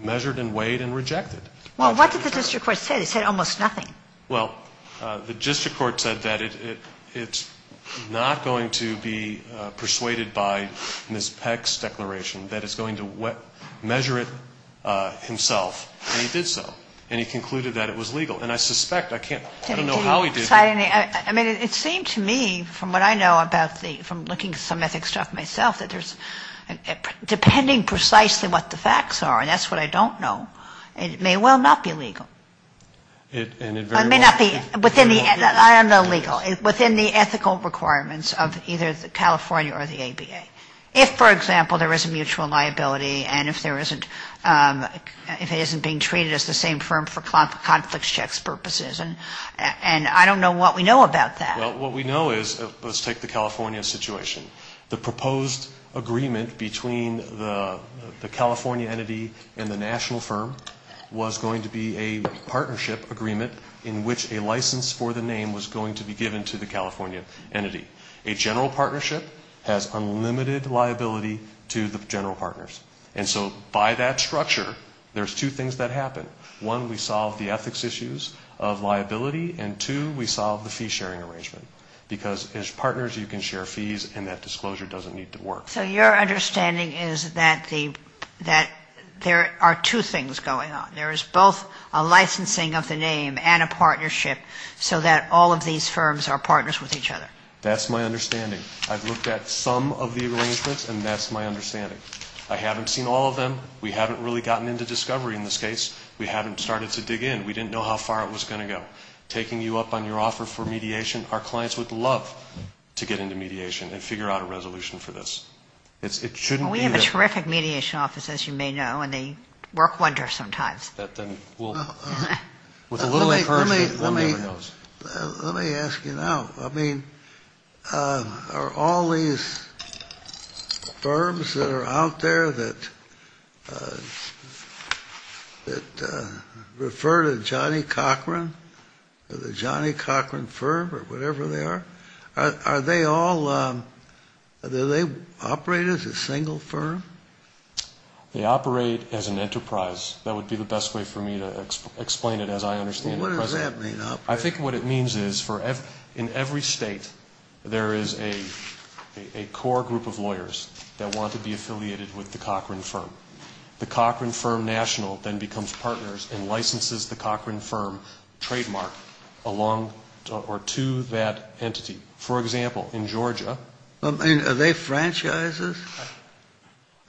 measured and weighed and rejected. Well, what did the district court say? They said almost nothing. Well, the district court said that it's not going to be persuaded by Ms. Peck's declaration, that it's going to measure it himself. And it did so. And he concluded that it was legal. And I suspect, I can't, I don't know how he did it. I mean, it seemed to me, from what I know about the, from looking at some ethics stuff myself, that there's, depending precisely what the facts are, and that's what I don't know, it may well not be legal. And it very well may not be. It may not be within the, I don't know, legal, within the ethical requirements of either the California or the ABA. If, for example, there is a mutual liability and if there isn't, if it isn't being treated as the same firm for conflict checks purposes. And I don't know what we know about that. Well, what we know is, let's take the California situation. The proposed agreement between the California entity and the national firm was going to be a partnership agreement in which a license for the name was going to be given to the California entity. A general partnership has unlimited liability to the general partners. And so by that structure, there's two things that happen. One, we solve the ethics issues of liability. And two, we solve the fee-sharing arrangement. Because as partners, you can share fees and that disclosure doesn't need to work. So your understanding is that the, that there are two things going on. There is both a licensing of the name and a partnership so that all of these firms are partners with each other. That's my understanding. I've looked at some of the arrangements and that's my understanding. I haven't seen all of them. We haven't really gotten into discovery in this case. We haven't started to dig in. We didn't know how far it was going to go. Taking you up on your offer for mediation, our clients would love to get into mediation and figure out a resolution for this. It shouldn't be that. Well, we have a terrific mediation office, as you may know, and they work wonders sometimes. That then will, with a little encouragement, one day we'll know. Let me ask you now. I mean, are all these firms that are out there that refer to Johnny Cochran or the Johnny Cochran firm or whatever they are, are they all, do they operate as a single firm? They operate as an enterprise. That would be the best way for me to explain it as I understand it at present. I think what it means is in every state there is a core group of lawyers that want to be affiliated with the Cochran firm. The Cochran firm national then becomes partners and licenses the Cochran firm trademark along or to that entity. For example, in Georgia. Are they franchises?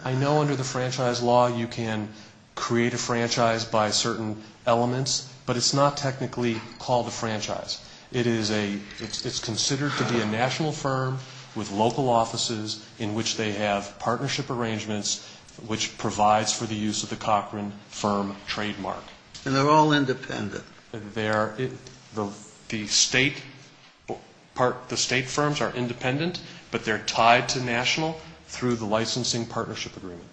I know under the franchise law you can create a franchise by certain elements, but it's not technically called a franchise. It's considered to be a national firm with local offices in which they have partnership arrangements, which provides for the use of the Cochran firm trademark. And they're all independent? The state firms are independent, but they're tied to national through the licensing partnership agreement.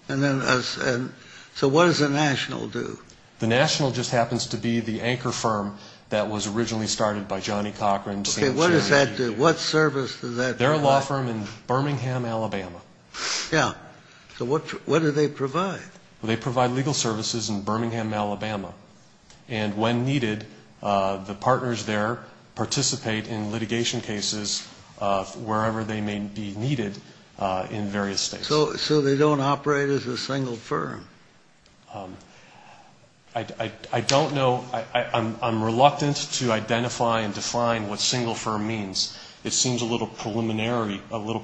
So what does the national do? The national just happens to be the anchor firm that was originally started by Johnny Cochran. Okay, what does that do? What service does that do? They're a law firm in Birmingham, Alabama. Yeah. So what do they provide? They provide legal services in Birmingham, Alabama. And when needed, the partners there participate in litigation cases wherever they may be needed in various states. So they don't operate as a single firm? I don't know. I'm reluctant to identify and define what single firm means. It seems a little preliminary, a little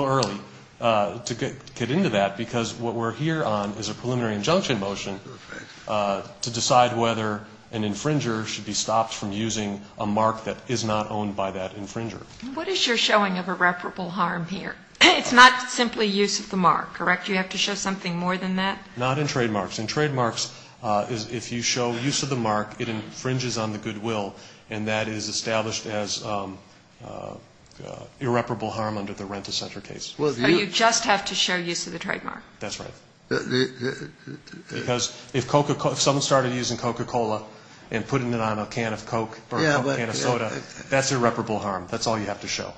early to get into that, because what we're here on is a preliminary injunction motion to decide whether an infringer should be stopped from using a mark that is not owned by that infringer. What is your showing of irreparable harm here? It's not simply use of the mark, correct? Do you have to show something more than that? Not in trademarks. In trademarks, if you show use of the mark, it infringes on the goodwill, and that is established as irreparable harm under the rent-a-center case. So you just have to show use of the trademark? That's right. Because if someone started using Coca-Cola and putting it on a can of Coke or a can of soda, that's irreparable harm. That's all you have to show.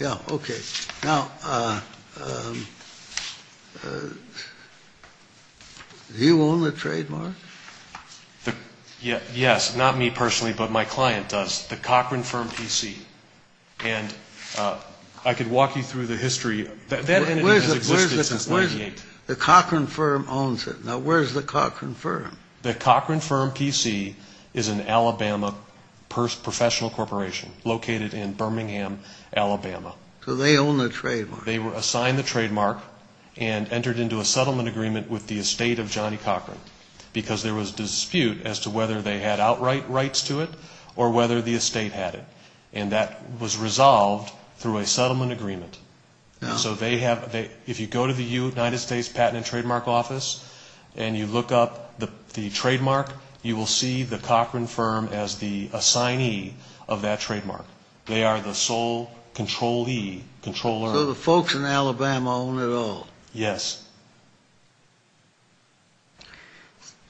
Yeah, okay. Now, do you own the trademark? Yes. Not me personally, but my client does, the Cochran Firm PC. And I could walk you through the history. That entity has existed since 1998. The Cochran Firm owns it. Now, where's the Cochran Firm? The Cochran Firm PC is an Alabama professional corporation located in Birmingham, Alabama. So they own the trademark. They were assigned the trademark and entered into a settlement agreement with the estate of Johnny Cochran, because there was dispute as to whether they had outright rights to it or whether the estate had it. And that was resolved through a settlement agreement. So if you go to the United States Patent and Trademark Office and you look up the trademark, you will see the Cochran Firm as the assignee of that trademark. They are the sole controlee, controller. So the folks in Alabama own it all? Yes.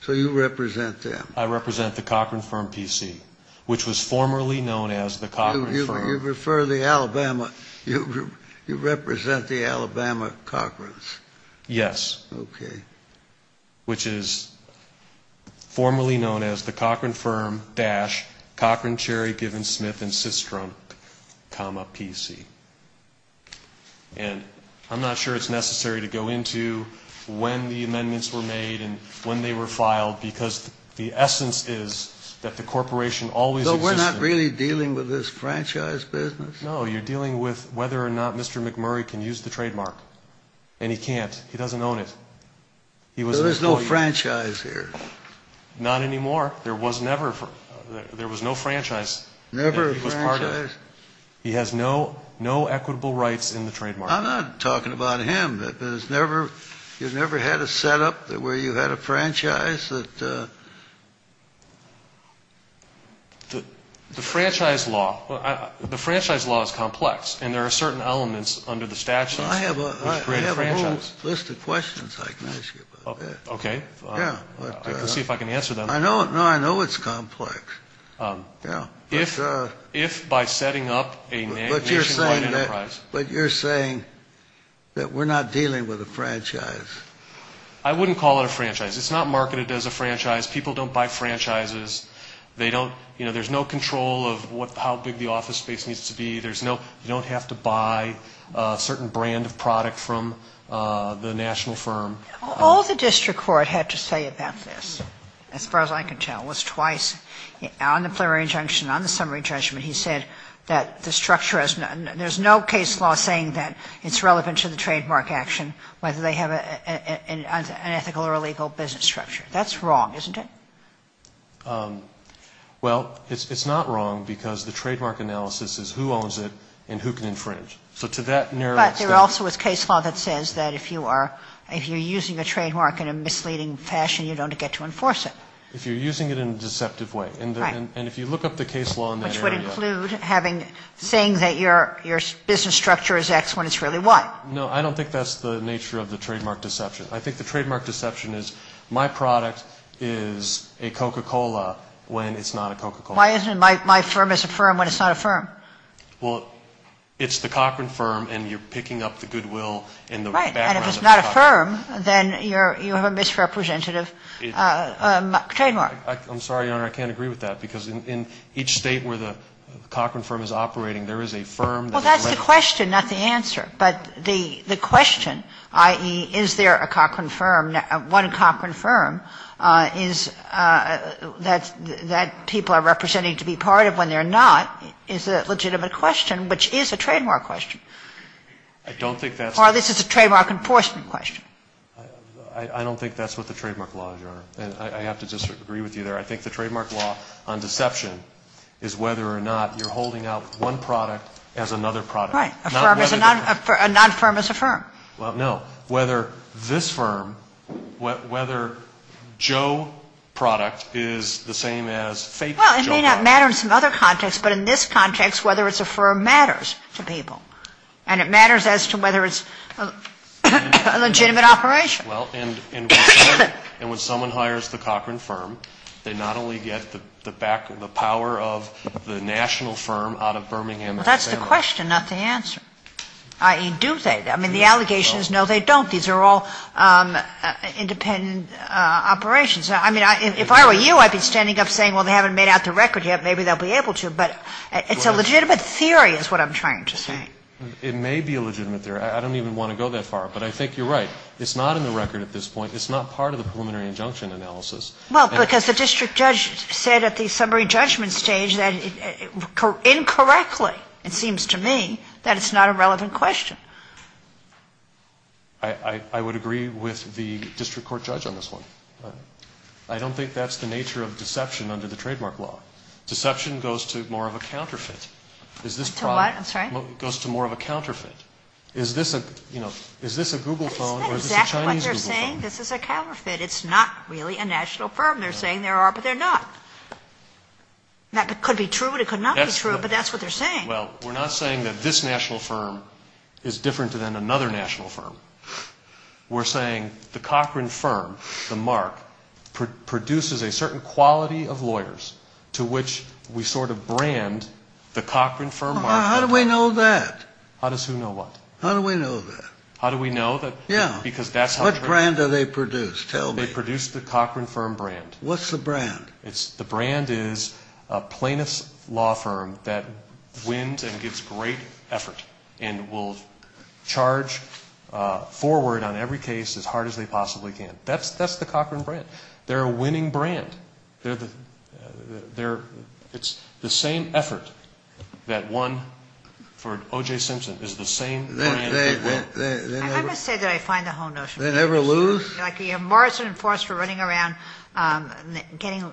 So you represent them? I represent the Cochran Firm PC, which was formerly known as the Cochran Firm. You refer to Alabama. You represent the Alabama Cochrans? Yes. Okay. And I'm not sure it's necessary to go into when the amendments were made and when they were filed, because the essence is that the corporation always existed. So we're not really dealing with this franchise business? No. You're dealing with whether or not Mr. McMurray can use the trademark. And he can't. He doesn't own it. He was assigned the trademark. So there's no franchise here? Not anymore. There was never a franchise. Never a franchise? He has no equitable rights in the trademark. I'm not talking about him. You've never had a setup where you had a franchise? The franchise law is complex. And there are certain elements under the statutes which create a franchise. There's a whole list of questions I can ask you about that. Okay. I can see if I can answer them. No, I know it's complex. If by setting up a nationwide enterprise. But you're saying that we're not dealing with a franchise. I wouldn't call it a franchise. It's not marketed as a franchise. People don't buy franchises. There's no control of how big the office space needs to be. You don't have to buy a certain brand of product from the national firm. All the district court had to say about this, as far as I can tell, was twice. On the plenary injunction, on the summary judgment, he said that the structure has none. There's no case law saying that it's relevant to the trademark action whether they have an ethical or legal business structure. That's wrong, isn't it? Well, it's not wrong because the trademark analysis is who owns it and who can infringe. So to that narrow extent. But there also is case law that says that if you're using a trademark in a misleading fashion, you don't get to enforce it. If you're using it in a deceptive way. Right. And if you look up the case law in that area. Which would include saying that your business structure is X when it's really Y. No, I don't think that's the nature of the trademark deception. I think the trademark deception is my product is a Coca-Cola when it's not a Coca-Cola. Why isn't it my firm is a firm when it's not a firm? Well, it's the Cochran Firm and you're picking up the goodwill in the background of the company. Right. And if it's not a firm, then you have a misrepresentative trademark. I'm sorry, Your Honor, I can't agree with that. Because in each State where the Cochran Firm is operating, there is a firm that is registered. Well, that's the question, not the answer. But the question, i.e., is there a Cochran Firm, one Cochran Firm, is that people are representing to be part of when they're not, is a legitimate question, which is a trademark question. I don't think that's. Or this is a trademark enforcement question. I don't think that's what the trademark law is, Your Honor. And I have to disagree with you there. I think the trademark law on deception is whether or not you're holding out one product as another product. Right. A firm is a non-firm is a firm. Well, no. Whether this firm, whether Joe product is the same as fake Joe product. Well, it may not matter in some other context, but in this context, whether it's a firm matters to people. And it matters as to whether it's a legitimate operation. Well, and when someone hires the Cochran Firm, they not only get the back, the power of the national firm out of Birmingham, Alabama. Well, that's the question, not the answer. I mean, do they? I mean, the allegation is no, they don't. These are all independent operations. I mean, if I were you, I'd be standing up saying, well, they haven't made out the record yet. Maybe they'll be able to. But it's a legitimate theory is what I'm trying to say. It may be a legitimate theory. I don't even want to go that far. But I think you're right. It's not in the record at this point. It's not part of the preliminary injunction analysis. Well, because the district judge said at the summary judgment stage that incorrectly, it seems to me, that it's not a relevant question. I would agree with the district court judge on this one. I don't think that's the nature of deception under the trademark law. Deception goes to more of a counterfeit. To what? I'm sorry? It goes to more of a counterfeit. Is this a Google phone or is this a Chinese Google phone? That's not exactly what they're saying. This is a counterfeit. It's not really a national firm. They're saying there are, but they're not. It could be true and it could not be true, but that's what they're saying. Well, we're not saying that this national firm is different than another national firm. We're saying the Cochran firm, the mark, produces a certain quality of lawyers to which we sort of brand the Cochran firm mark. How do we know that? How does who know what? How do we know that? How do we know that? Yeah. What brand do they produce? Tell me. They produce the Cochran firm brand. What's the brand? The brand is a plaintiff's law firm that wins and gives great effort and will charge forward on every case as hard as they possibly can. That's the Cochran brand. They're a winning brand. It's the same effort that won for O.J. Simpson. It's the same brand. I'm going to say that I find the whole notion. They never lose? Like you have Morrison and Foster running around getting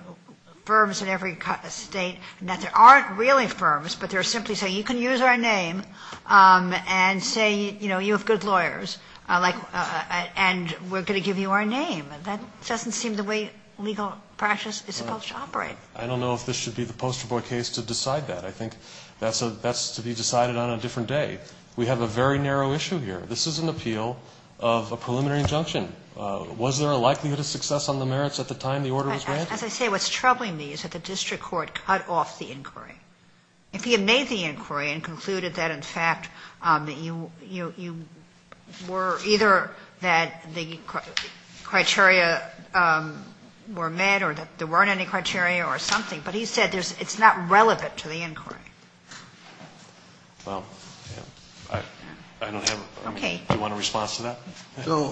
firms in every state that there aren't really firms, but they're simply saying you can use our name and say, you know, you have good lawyers and we're going to give you our name. That doesn't seem the way legal practice is supposed to operate. I don't know if this should be the poster boy case to decide that. I think that's to be decided on a different day. We have a very narrow issue here. This is an appeal of a preliminary injunction. Was there a likelihood of success on the merits at the time the order was granted? As I say, what's troubling me is that the district court cut off the inquiry. If he had made the inquiry and concluded that, in fact, you were either that the criteria were met or that there weren't any criteria or something, but he said it's not relevant to the inquiry. Well, I don't have a response to that. So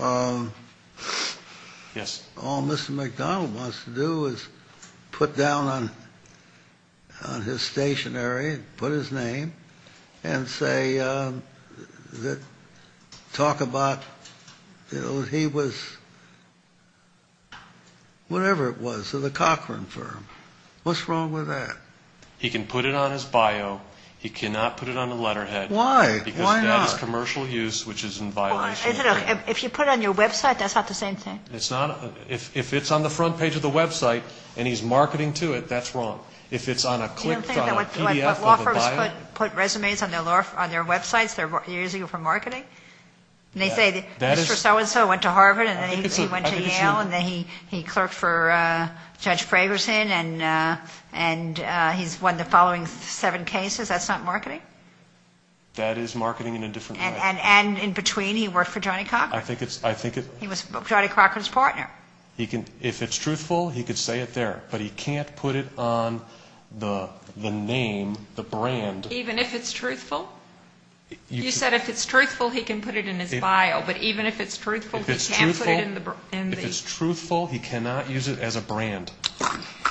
all Mr. McDonnell wants to do is put down on his stationery, put his name, and say that talk about, you know, he was whatever it was at the Cochran firm. What's wrong with that? He can put it on his bio. He cannot put it on the letterhead. Why? Why not? Because that is commercial use, which is in violation of the law. If you put it on your website, that's not the same thing. It's not. If it's on the front page of the website and he's marketing to it, that's wrong. If it's on a click on a PDF of a bio. Do you think that when law firms put resumes on their websites, they're using it for marketing? And they say Mr. So-and-so went to Harvard and then he went to Yale and then he won the following seven cases, that's not marketing? That is marketing in a different way. And in between he worked for Johnny Cochran. I think it's – He was Johnny Cochran's partner. If it's truthful, he can say it there. But he can't put it on the name, the brand. Even if it's truthful? You said if it's truthful, he can put it in his bio. But even if it's truthful, he can't put it in the – If it's truthful, he cannot use it as a brand.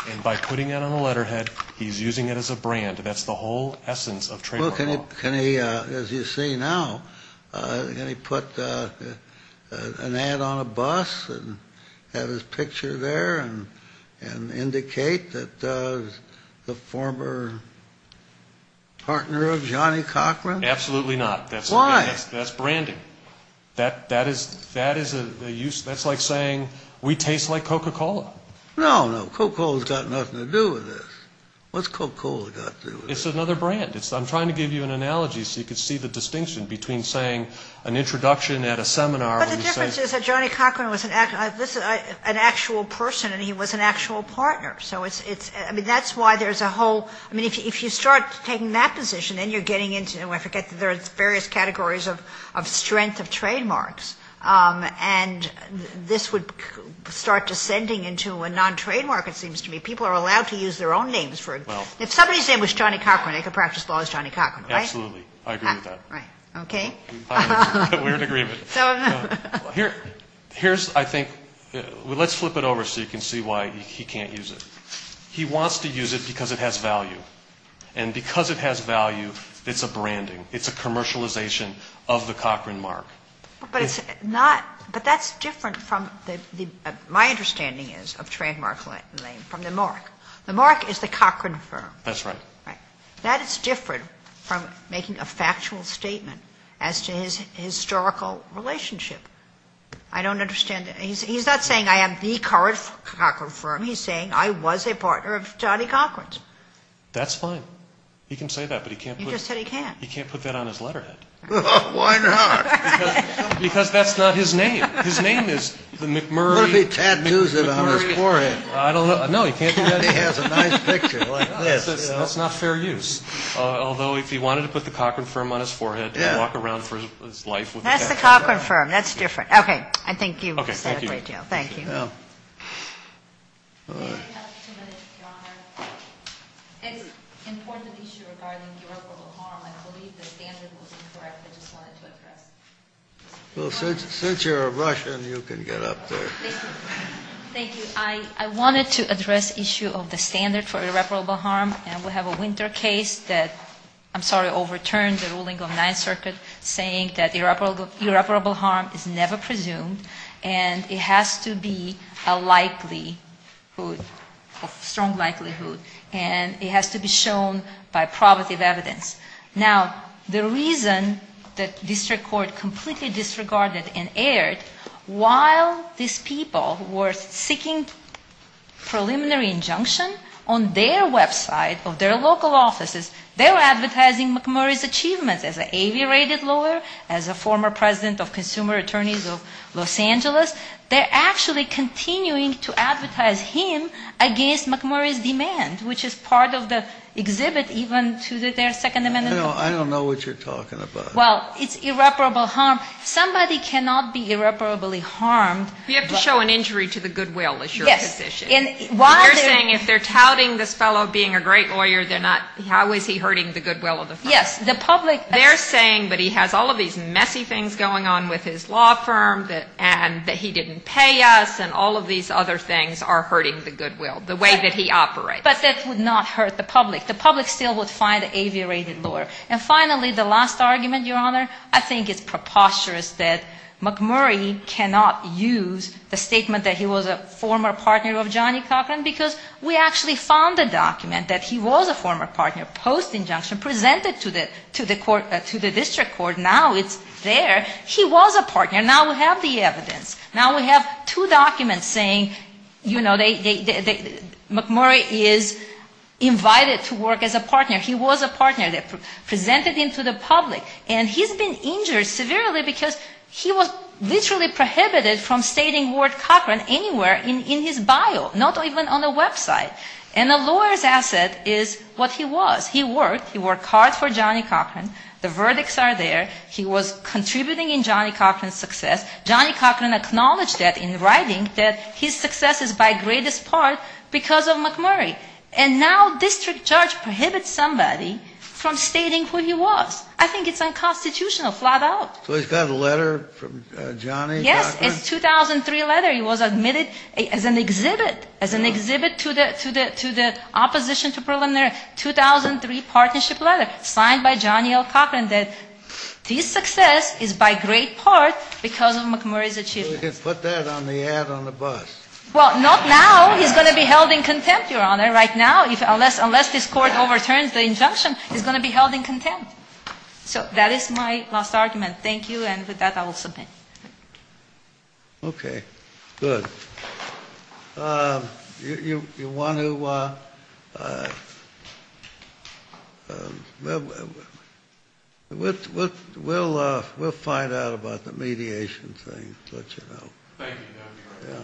And by putting it on a letterhead, he's using it as a brand. That's the whole essence of trademark law. Well, can he, as you see now, can he put an ad on a bus and have his picture there and indicate that the former partner of Johnny Cochran? Absolutely not. Why? That's branding. That is a use – that's like saying we taste like Coca-Cola. No, no. Coca-Cola's got nothing to do with this. What's Coca-Cola got to do with it? It's another brand. I'm trying to give you an analogy so you can see the distinction between saying an introduction at a seminar and saying – But the difference is that Johnny Cochran was an actual person and he was an actual partner. So it's – I mean, that's why there's a whole – I mean, if you start taking that position, then you're getting into – And this would start descending into a non-trademark, it seems to me. People are allowed to use their own names for it. If somebody's name was Johnny Cochran, they could practice law as Johnny Cochran, right? Absolutely. I agree with that. Right. Okay. We're in agreement. Here's, I think – well, let's flip it over so you can see why he can't use it. He wants to use it because it has value. And because it has value, it's a branding. It's a commercialization of the Cochran mark. But it's not – but that's different from the – my understanding is of trademark name from the mark. The mark is the Cochran firm. That's right. Right. That is different from making a factual statement as to his historical relationship. I don't understand – he's not saying I am the Cochran firm. He's saying I was a partner of Johnny Cochran's. That's fine. He can say that, but he can't put – He just said he can't. He can't put that on his letterhead. Why not? Because that's not his name. His name is the McMurray – What if he tattoos it on his forehead? I don't know. No, he can't do that. He has a nice picture like this. That's not fair use. Although, if he wanted to put the Cochran firm on his forehead and walk around for his life – That's the Cochran firm. That's different. Okay. I think you understand a great deal. Okay. Thank you. Thank you. Yeah. All right. If you have two minutes, Your Honor. It's an important issue regarding irreparable harm. I believe the standard was incorrect. I just wanted to address it. Well, since you're a Russian, you can get up there. Thank you. I wanted to address the issue of the standard for irreparable harm, and we have a winter case that – I'm sorry, overturned the ruling of the Ninth Circuit saying that irreparable harm is never presumed, and it has to be a likelihood, a strong likelihood, and it has to be shown by probative evidence. Now, the reason that district court completely disregarded and erred, while these people were seeking preliminary injunction, on their website of their local offices, they were of Los Angeles, they're actually continuing to advertise him against McMurray's demand, which is part of the exhibit even to their Second Amendment. I don't know what you're talking about. Well, it's irreparable harm. Somebody cannot be irreparably harmed. You have to show an injury to the goodwill, is your position. Yes. You're saying if they're touting this fellow being a great lawyer, they're not – how is he hurting the goodwill of the firm? Yes. The public – They're saying that he has all of these messy things going on with his law firm, and that he didn't pay us, and all of these other things are hurting the goodwill, the way that he operates. But that would not hurt the public. The public still would find an aviated lawyer. And finally, the last argument, Your Honor, I think it's preposterous that McMurray cannot use the statement that he was a former partner of Johnny Cochran, because we actually found a document that he was a former partner post-injunction presented to the district court. Now it's there. He was a partner. Now we have the evidence. Now we have two documents saying, you know, McMurray is invited to work as a partner. He was a partner. They presented him to the public. And he's been injured severely because he was literally prohibited from stating the word Cochran anywhere in his bio, not even on a website. And a lawyer's asset is what he was. He worked. He worked hard for Johnny Cochran. The verdicts are there. He was contributing in Johnny Cochran's success. Johnny Cochran acknowledged that in writing that his success is by greatest part because of McMurray. And now district judge prohibits somebody from stating who he was. I think it's unconstitutional, flat out. So he's got a letter from Johnny Cochran? Yes. It's 2003 letter. He was admitted as an exhibit, as an exhibit to the opposition to preliminary 2003 partnership letter signed by Johnny L. Cochran that his success is by great part because of McMurray's achievements. You can put that on the ad on the bus. Well, not now. He's going to be held in contempt, Your Honor, right now unless this court overturns the injunction. He's going to be held in contempt. So that is my last argument. Thank you. And with that, I will submit. Okay. Good. You want to, we'll find out about the mediation thing. Thank you, Your Honor. Yeah.